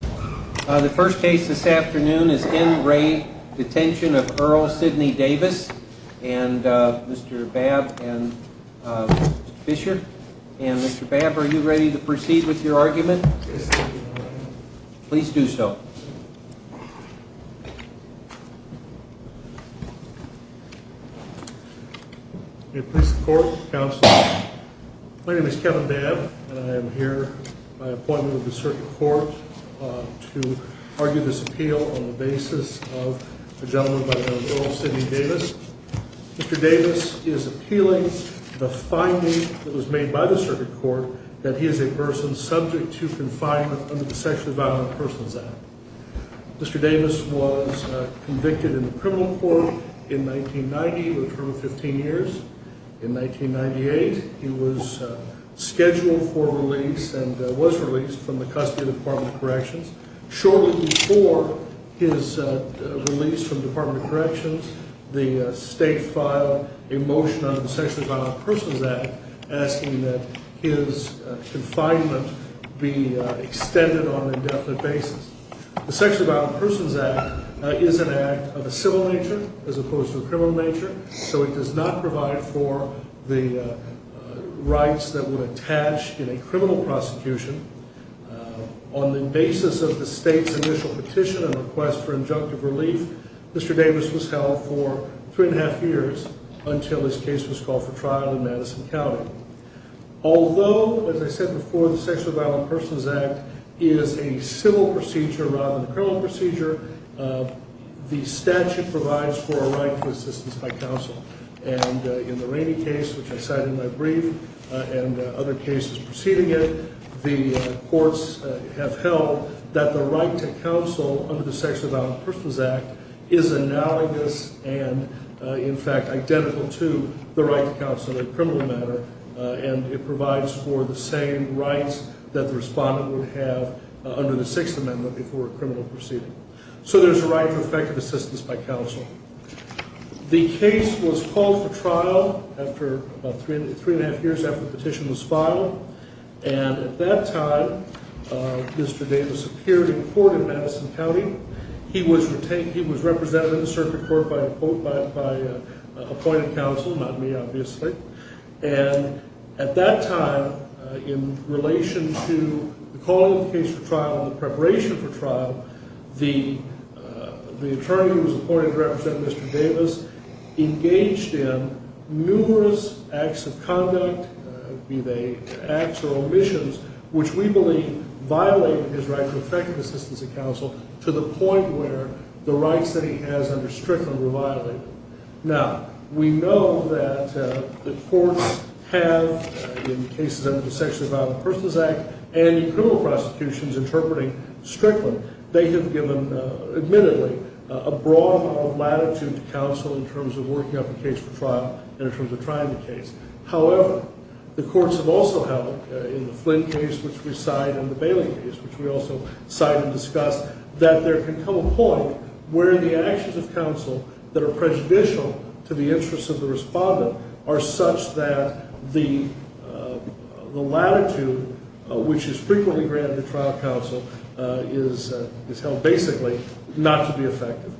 The first case this afternoon is in re Detention of Earl Sidney Davis and Mr. Babb and Fisher and Mr. Babb are you ready to proceed with your argument? Please do so. Please support Council. My name is Kevin Babb and I am here by appointment of the circuit court to argue this appeal on the basis of a gentleman by the name of Earl Sidney Davis. Mr. Davis is appealing the finding that was made by the circuit court that he is a person subject to confinement under the sexually violent persons act. Mr. Davis was convicted in the criminal court in 1990 with a term of 15 years. In 1998 he was scheduled for release and was released from the custody of the Department of Corrections. Shortly before his release from the Department of Corrections the state filed a motion on the sexually violent persons act asking that his confinement be extended on an indefinite basis. The sexually violent persons act is an act of a civil nature as opposed to a criminal nature so it does not provide for the rights that would attach in a criminal prosecution. On the basis of the state's initial petition and request for injunctive relief Mr. Davis was held for three and a half years until his case was called for trial in Madison County. Although as I said before the sexually violent persons act is a civil procedure rather than a criminal procedure the statute provides for a right to assistance by counsel. And in the Rainey case which I cited in my brief and other cases preceding it the courts have held that the right to counsel under the sexually violent persons act is analogous and in fact identical to the right to counsel in a criminal matter. And it provides for the same rights that the respondent would have under the sixth amendment before a criminal proceeding. So there's a right for effective assistance by counsel. The case was called for trial after about three and a half years after the petition was filed and at that time Mr. Davis appeared in court in Madison County. He was represented in the circuit court by appointed counsel, not me obviously. And at that time in relation to the calling of the case for trial and the preparation for trial the attorney who was appointed to represent Mr. Davis engaged in numerous acts of conduct be they acts or omissions which we believe violated his right to effective assistance of counsel to the point where the rights that he has under Strickland were violated. Now we know that the courts have in cases under the sexually violent persons act and in criminal prosecutions interpreting Strickland they have given admittedly a broad amount of latitude to counsel in terms of working up a case for trial and in terms of trying the case. However, the courts have also held in the Flynn case which we cite and the Bailey case which we also cite and discuss that there can come a point where the actions of counsel that are prejudicial to the interest of the respondent are such that the latitude which is frequently granted to trial counsel is held basically not to be effective.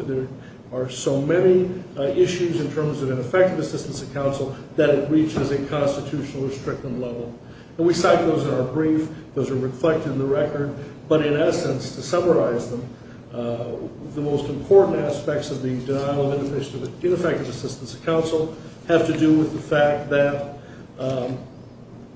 There are so many issues in terms of ineffective assistance of counsel that it reaches a constitutional Strickland level. And we cite those in our brief. Those are reflected in the record. But in essence, to summarize them, the most important aspects of the denial of ineffective assistance of counsel have to do with the fact that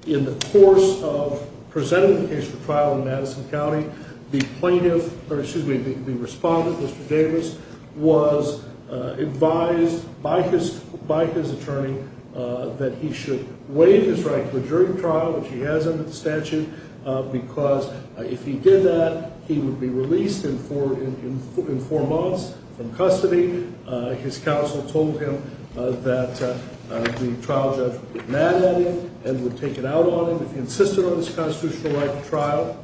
in the course of presenting the case for trial in Madison County, the plaintiff, or excuse me, the respondent, Mr. Davis, was advised by his attorney that he should waive his right to a jury trial, which he has in the statute, because if he did that, he would be released in four months from custody. His counsel told him that the trial judge would get mad at him and would take it out on him if he insisted on this constitutional right to trial.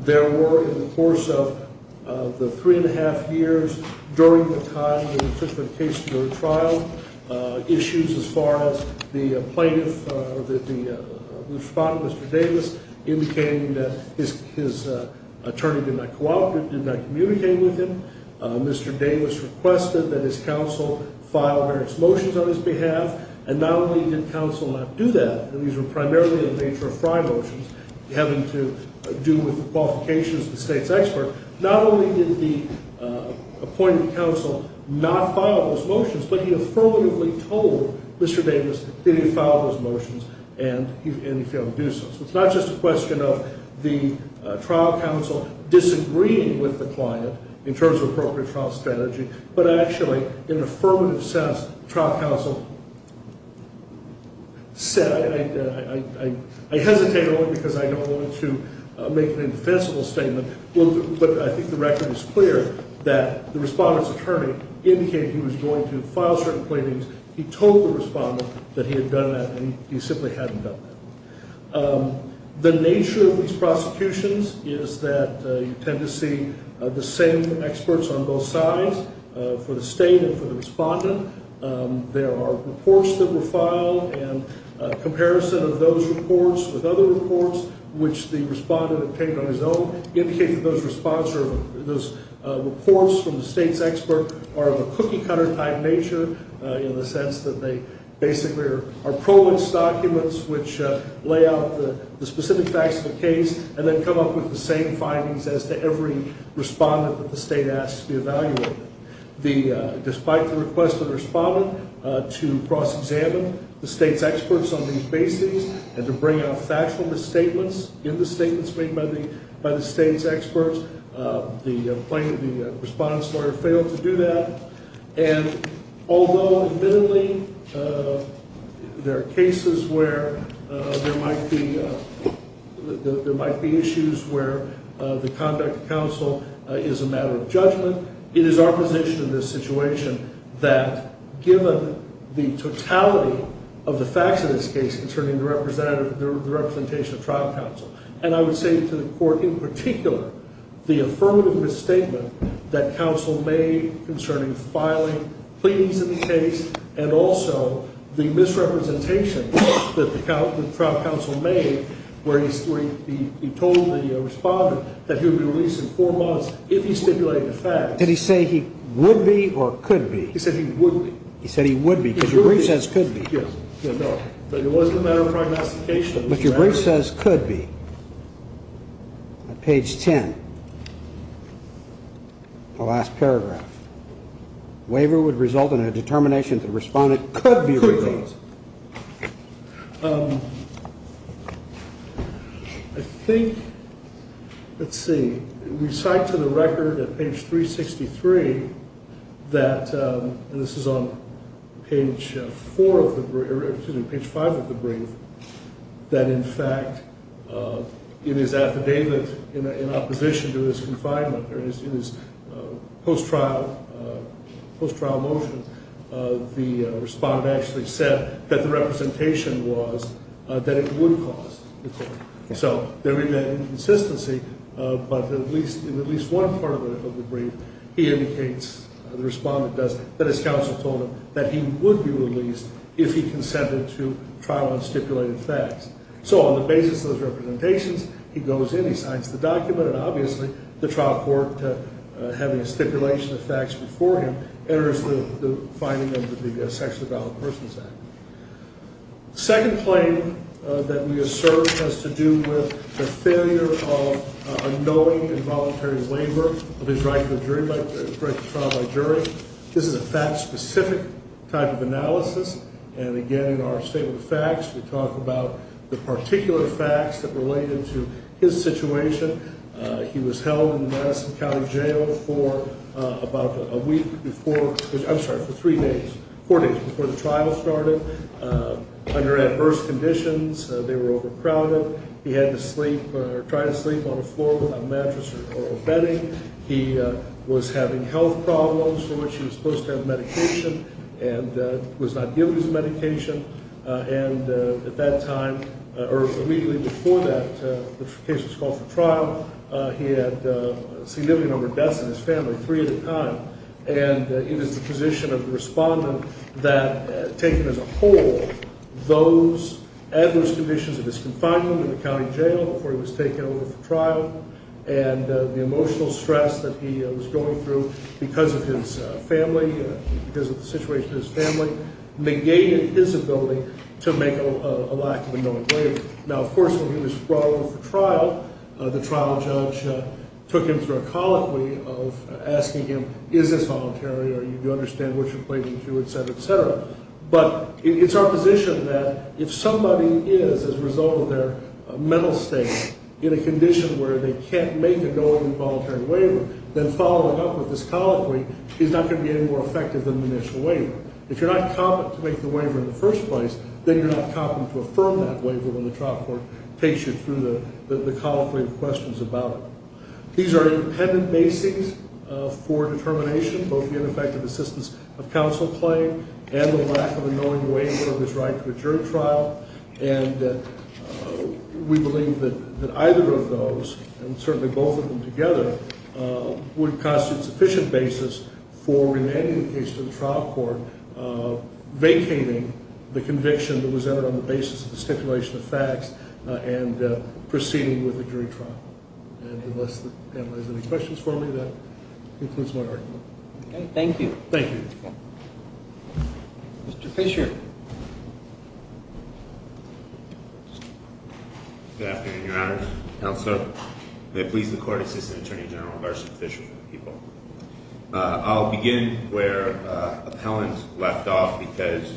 There were, in the course of the three and a half years during the time that he took the case to jury trial, issues as far as the plaintiff, the respondent, Mr. Davis, indicating that his attorney did not cooperate, did not communicate with him. Mr. Davis requested that his counsel file various motions on his behalf. And not only did counsel not do that, and these were primarily in nature of fry motions, having to do with the qualifications of the state's expert, not only did the appointed counsel not file those motions, but he affirmatively told Mr. Davis that he filed those motions and he failed to do so. So it's not just a question of the trial counsel disagreeing with the client in terms of appropriate trial strategy, but actually, in an affirmative sense, trial counsel said, I hesitate only because I don't want to make an indefensible statement, but I think the record is clear that the respondent's attorney indicated he was going to file certain plaintiffs. He told the respondent that he had done that and he simply hadn't done that. The nature of these prosecutions is that you tend to see the same experts on both sides, for the state and for the respondent. There are reports that were filed, and a comparison of those reports with other reports, which the respondent obtained on his own, indicates that those reports from the state's expert are of a cookie-cutter type nature, in the sense that they basically are provence documents which lay out the specific facts of the case and then come up with the same findings as to every respondent that the state asks to be evaluated. Despite the request of the respondent to cross-examine the state's experts on these bases and to bring out factual misstatements in the statements made by the state's experts, the respondent's lawyer failed to do that. Although, admittedly, there are cases where there might be issues where the conduct of counsel is a matter of judgment, it is our position in this situation that, given the totality of the facts of this case concerning the representation of trial counsel, and I would say to the court in particular, the affirmative misstatement that counsel made concerning filing, pleadings in the case, and also the misrepresentation that the trial counsel made where he told the respondent that he would be released in four months if he stipulated the facts. Did he say he would be or could be? He said he would be. He said he would be, because your brief says could be. Yes. No. But it wasn't a matter of prognostication. But your brief says could be. Page 10. The last paragraph. Waiver would result in a determination that the respondent could be released. Could be. I think, let's see, we cite to the record at page 363 that, and this is on page 4 of the, excuse me, page 5 of the brief, that, in fact, in his affidavit in opposition to his confinement, or in his post-trial motion, the respondent actually said that the representation would be released if he consented to trial on stipulated facts. So on the basis of those representations, he goes in, he signs the document, and obviously, the trial court, having a stipulation of facts before him, enters the finding of the Sexually Violent Persons Act. Second claim that we assert has to do with the failure of a knowing involuntary waiver of his right to trial by jury. This is a fact-specific type of analysis. And again, in our statement of facts, we talk about the particular facts that related to his situation. He was held in the Madison County Jail for about a week before, I'm sorry, for three days, four days before the trial started. Under adverse conditions, they were overcrowded. He had to sleep, or try to sleep on the floor without a mattress or bedding. He was having health problems for which he was supposed to have medication and was not given his medication. And at that time, or immediately before that, the case was called for trial. He had a significant number of deaths in his family, three at a time. And it is the position of the respondent that, taken as a whole, those adverse conditions of his confinement in the county jail before he was taken over for trial, and the emotional stress that he was going through because of his family, because of the situation of his family, negated his ability to make a lack of a knowing waiver. Now, of course, when he was brought over for trial, the trial judge took him through a colloquy of asking him, is this voluntary, or do you understand what you're pleading to, et cetera, et cetera. But it's our position that if somebody is, as a result of their mental state, in a condition where they can't make a knowing voluntary waiver, then following up with this colloquy is not going to be any more effective than the initial waiver. If you're not competent to make the waiver in the first place, then you're not competent to affirm that waiver when the trial court takes you through the colloquy of questions about it. These are independent basings for determination, both the ineffective assistance of counsel claim and the lack of a knowing waiver of his right to a jury trial, and we believe that either of those, and certainly both of them together, would constitute sufficient basis for remanding the case to the trial court, vacating the conviction that was entered on the basis of the stipulation of facts, and proceeding with the jury trial. And unless the panel has any questions for me, that concludes my argument. Okay, thank you. Thank you. Mr. Fisher. Good afternoon, Your Honors, Counselor. May it please the Court, Assistant Attorney General Garson Fisher for the people. I'll begin where appellant left off because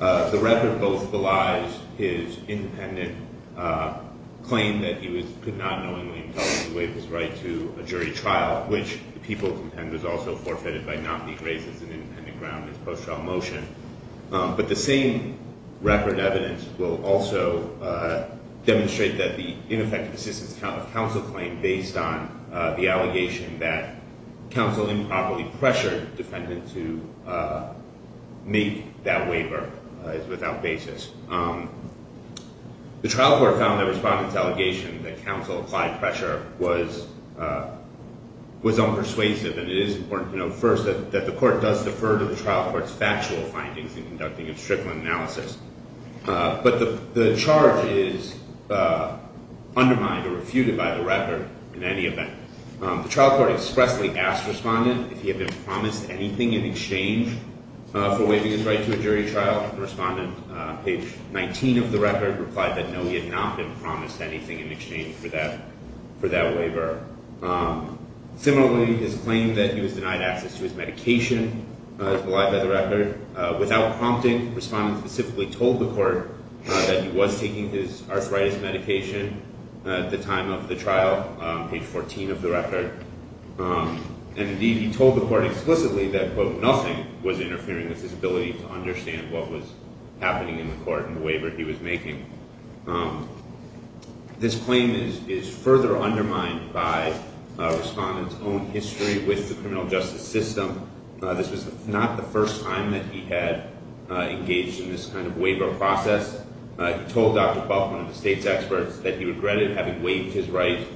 the record both belies his independent claim that he could not knowingly impose the waiver's right to a jury trial, which the people contend was also forfeited by not being raised as an independent ground in his post-trial motion. But the same record evidence will also demonstrate that the ineffective assistance of counsel claim based on the allegation that counsel improperly pressured the defendant to make that waiver is without basis. The trial court found that the respondent's allegation that counsel applied pressure was unpersuasive, and it is important to note first that the court does defer to the trial court's factual findings in conducting a stricter analysis. But the charge is undermined or refuted by the record in any event. The trial court expressly asked the respondent if he had been promised anything in exchange for waiving his right to a jury trial. The respondent, page 19 of the record, replied that no, he had not been promised anything in exchange for that waiver. Similarly, his claim that he was denied access to his medication is belied by the record. Without prompting, the respondent specifically told the court that he was taking his arthritis medication at the time of the trial, page 14 of the record, and he told the court explicitly that, quote, nothing was interfering with his ability to understand what was happening in the court and the waiver he was making. This claim is further undermined by the respondent's own history with the criminal justice system. This was not the first time that he had engaged in this kind of waiver process. He told Dr. Buff, one of the state's experts, that he regretted having waived his right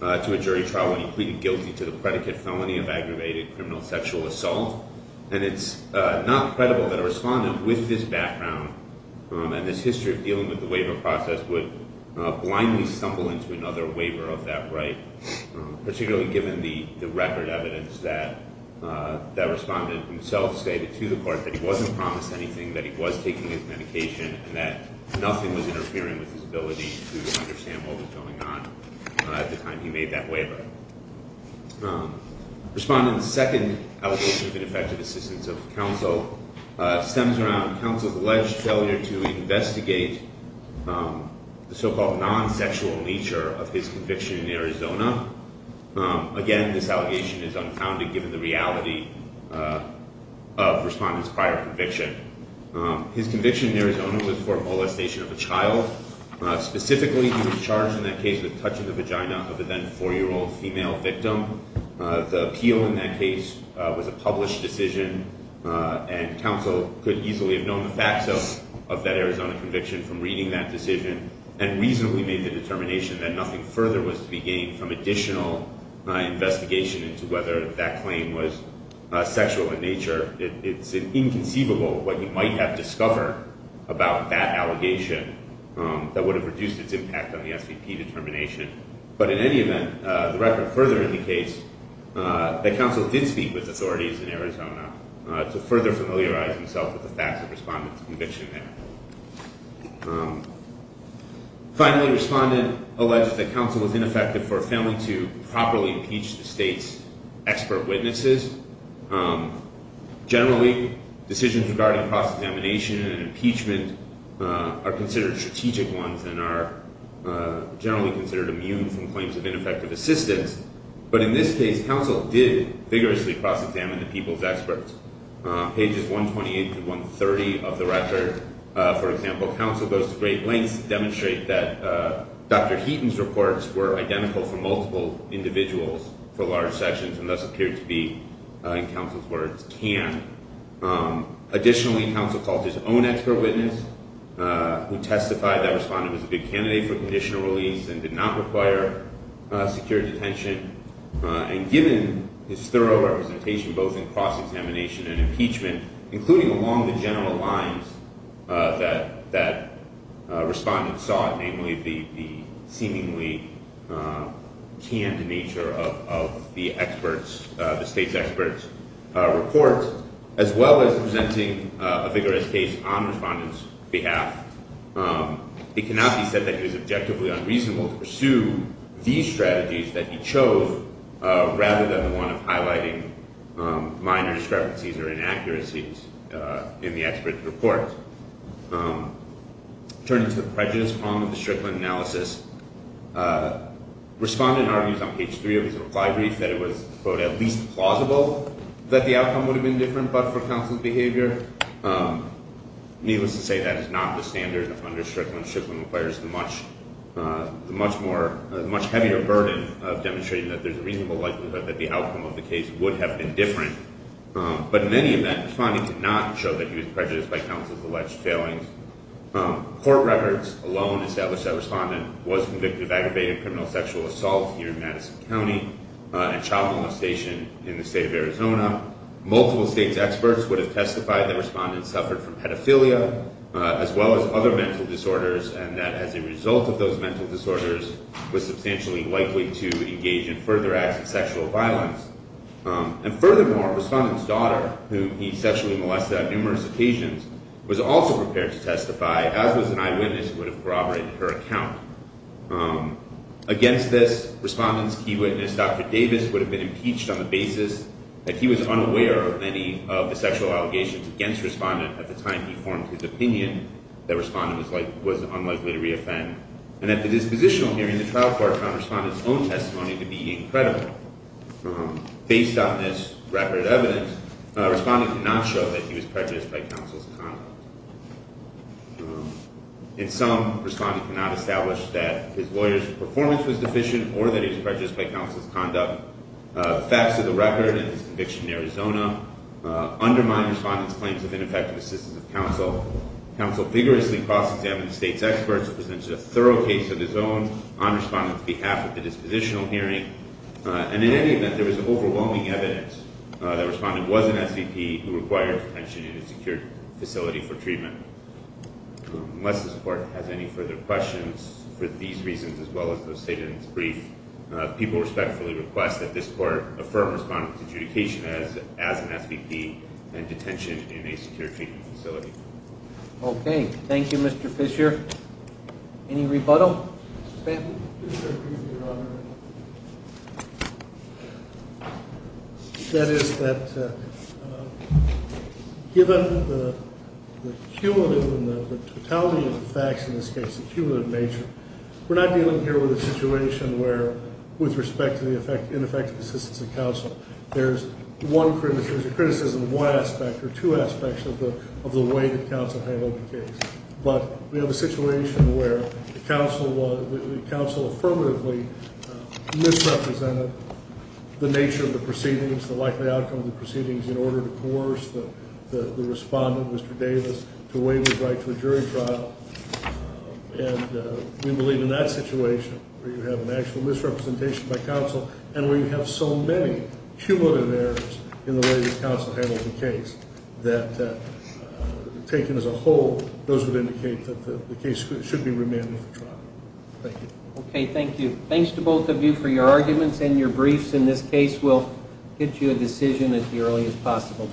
to a jury trial when he pleaded guilty to the predicate felony of aggravated criminal sexual assault. And it's not credible that a respondent with this background and this history of dealing with the waiver process would blindly stumble into another waiver of that right, particularly given the record evidence that the respondent himself stated to the court that he wasn't promised anything, that he was taking his medication, and that nothing was interfering with his ability to understand what was going on at the time he made that waiver. Respondent's second allegation of ineffective assistance of counsel stems around counsel's alleged failure to investigate the so-called non-sexual nature of his conviction in Arizona. Again, this allegation is unfounded given the reality of respondent's prior conviction. His conviction in Arizona was for molestation of a child. Specifically, he was charged in that case with touching the vagina of a then four-year-old female victim. The appeal in that case was a published decision, and counsel could easily have known the facts of that Arizona conviction from reading that decision and reasonably made the determination that nothing further was to be gained from additional investigation into whether that claim was sexual in nature. It's inconceivable what you might have discovered about that allegation that would have reduced its impact on the SVP determination. But in any event, the record further indicates that counsel did speak with authorities in Arizona to further familiarize himself with the facts of respondent's conviction there. Finally, respondent alleged that counsel was ineffective for failing to properly impeach the state's expert witnesses. Generally, decisions regarding cross-examination and impeachment are considered strategic ones and are generally considered immune from claims of ineffective assistance. But in this case, counsel did vigorously cross-examine the people's experts. Pages 128 through 130 of the record, for example, counsel goes to great lengths to demonstrate that Dr. Heaton's reports were identical for multiple individuals for large sections and thus appeared to be, in counsel's words, can. Additionally, counsel called his own expert witness who testified that respondent was a good candidate for conditional release and did not require secure detention. And given his thorough representation both in cross-examination and impeachment, including along the general lines that respondent sought, namely the seemingly canned nature of the experts, the state's experts' report, as well as presenting a vigorous case on respondent's behalf, it cannot be said that he was objectively unreasonable to pursue these strategies that he chose rather than the one of highlighting minor discrepancies or inaccuracies in the expert's report. Turning to the prejudice problem of the Strickland analysis, respondent argues on page 3 of his reply brief that it was, quote, at least plausible that the outcome would have been different, but for counsel's behavior, needless to say, that is not the standard of understanding when Strickland requires the much heavier burden of demonstrating that there's a reasonable likelihood that the outcome of the case would have been different. But in any event, respondent did not show that he was prejudiced by counsel's alleged failings. Court records alone establish that respondent was convicted of aggravated criminal sexual assault here in Madison County and child molestation in the state of Arizona. Multiple state's experts would have testified that respondent suffered from pedophilia, as well as other mental disorders, and that as a result of those mental disorders, was substantially likely to engage in further acts of sexual violence. And furthermore, respondent's daughter, whom he sexually molested on numerous occasions, was also prepared to testify, as was an eyewitness who would have corroborated her account. Against this, respondent's key witness, Dr. Davis, would have been impeached on the basis that he was unaware of any of the sexual allegations against respondent at the time he formed his opinion, that respondent was unlikely to reoffend, and that the dispositional hearing in the trial court on respondent's own testimony could be incredible. Based on this record of evidence, respondent could not show that he was prejudiced by counsel's conduct. In sum, respondent could not establish that his lawyer's performance was deficient or that he was prejudiced by counsel's conduct. The facts of the record and his conviction in Arizona undermine respondent's claims of ineffective assistance of counsel. Counsel vigorously cross-examined the state's experts and presented a thorough case of his own on respondent's behalf at the dispositional hearing. And in any event, there was overwhelming evidence that respondent was an SVP who required detention in a secured facility for treatment. Unless this Court has any further questions for these reasons, as well as those stated in this brief, people respectfully request that this Court affirm respondent's adjudication as an SVP and detention in a secured treatment facility. Okay. Thank you, Mr. Fisher. Any rebuttal? Mr. Spafford? Mr. Fisher, good evening, Your Honor. That is that given the cumulative and the totality of the facts in this case, the cumulative nature, we're not dealing here with a situation where, with respect to the ineffective assistance of counsel, there's a criticism of one aspect or two aspects of the way that counsel handled the case. But we have a situation where the counsel affirmatively misrepresented the nature of the proceedings, the likely outcome of the proceedings, in order to coerce the respondent, Mr. Davis, to waive his right to a jury trial. And we believe in that situation where you have an actual misrepresentation by counsel and where you have so many cumulative errors in the way that counsel handled the case, that taken as a whole, those would indicate that the case should be remanded for trial. Thank you. Okay. Thank you. Thanks to both of you for your arguments and your briefs. In this case, we'll get you a decision as early as possible.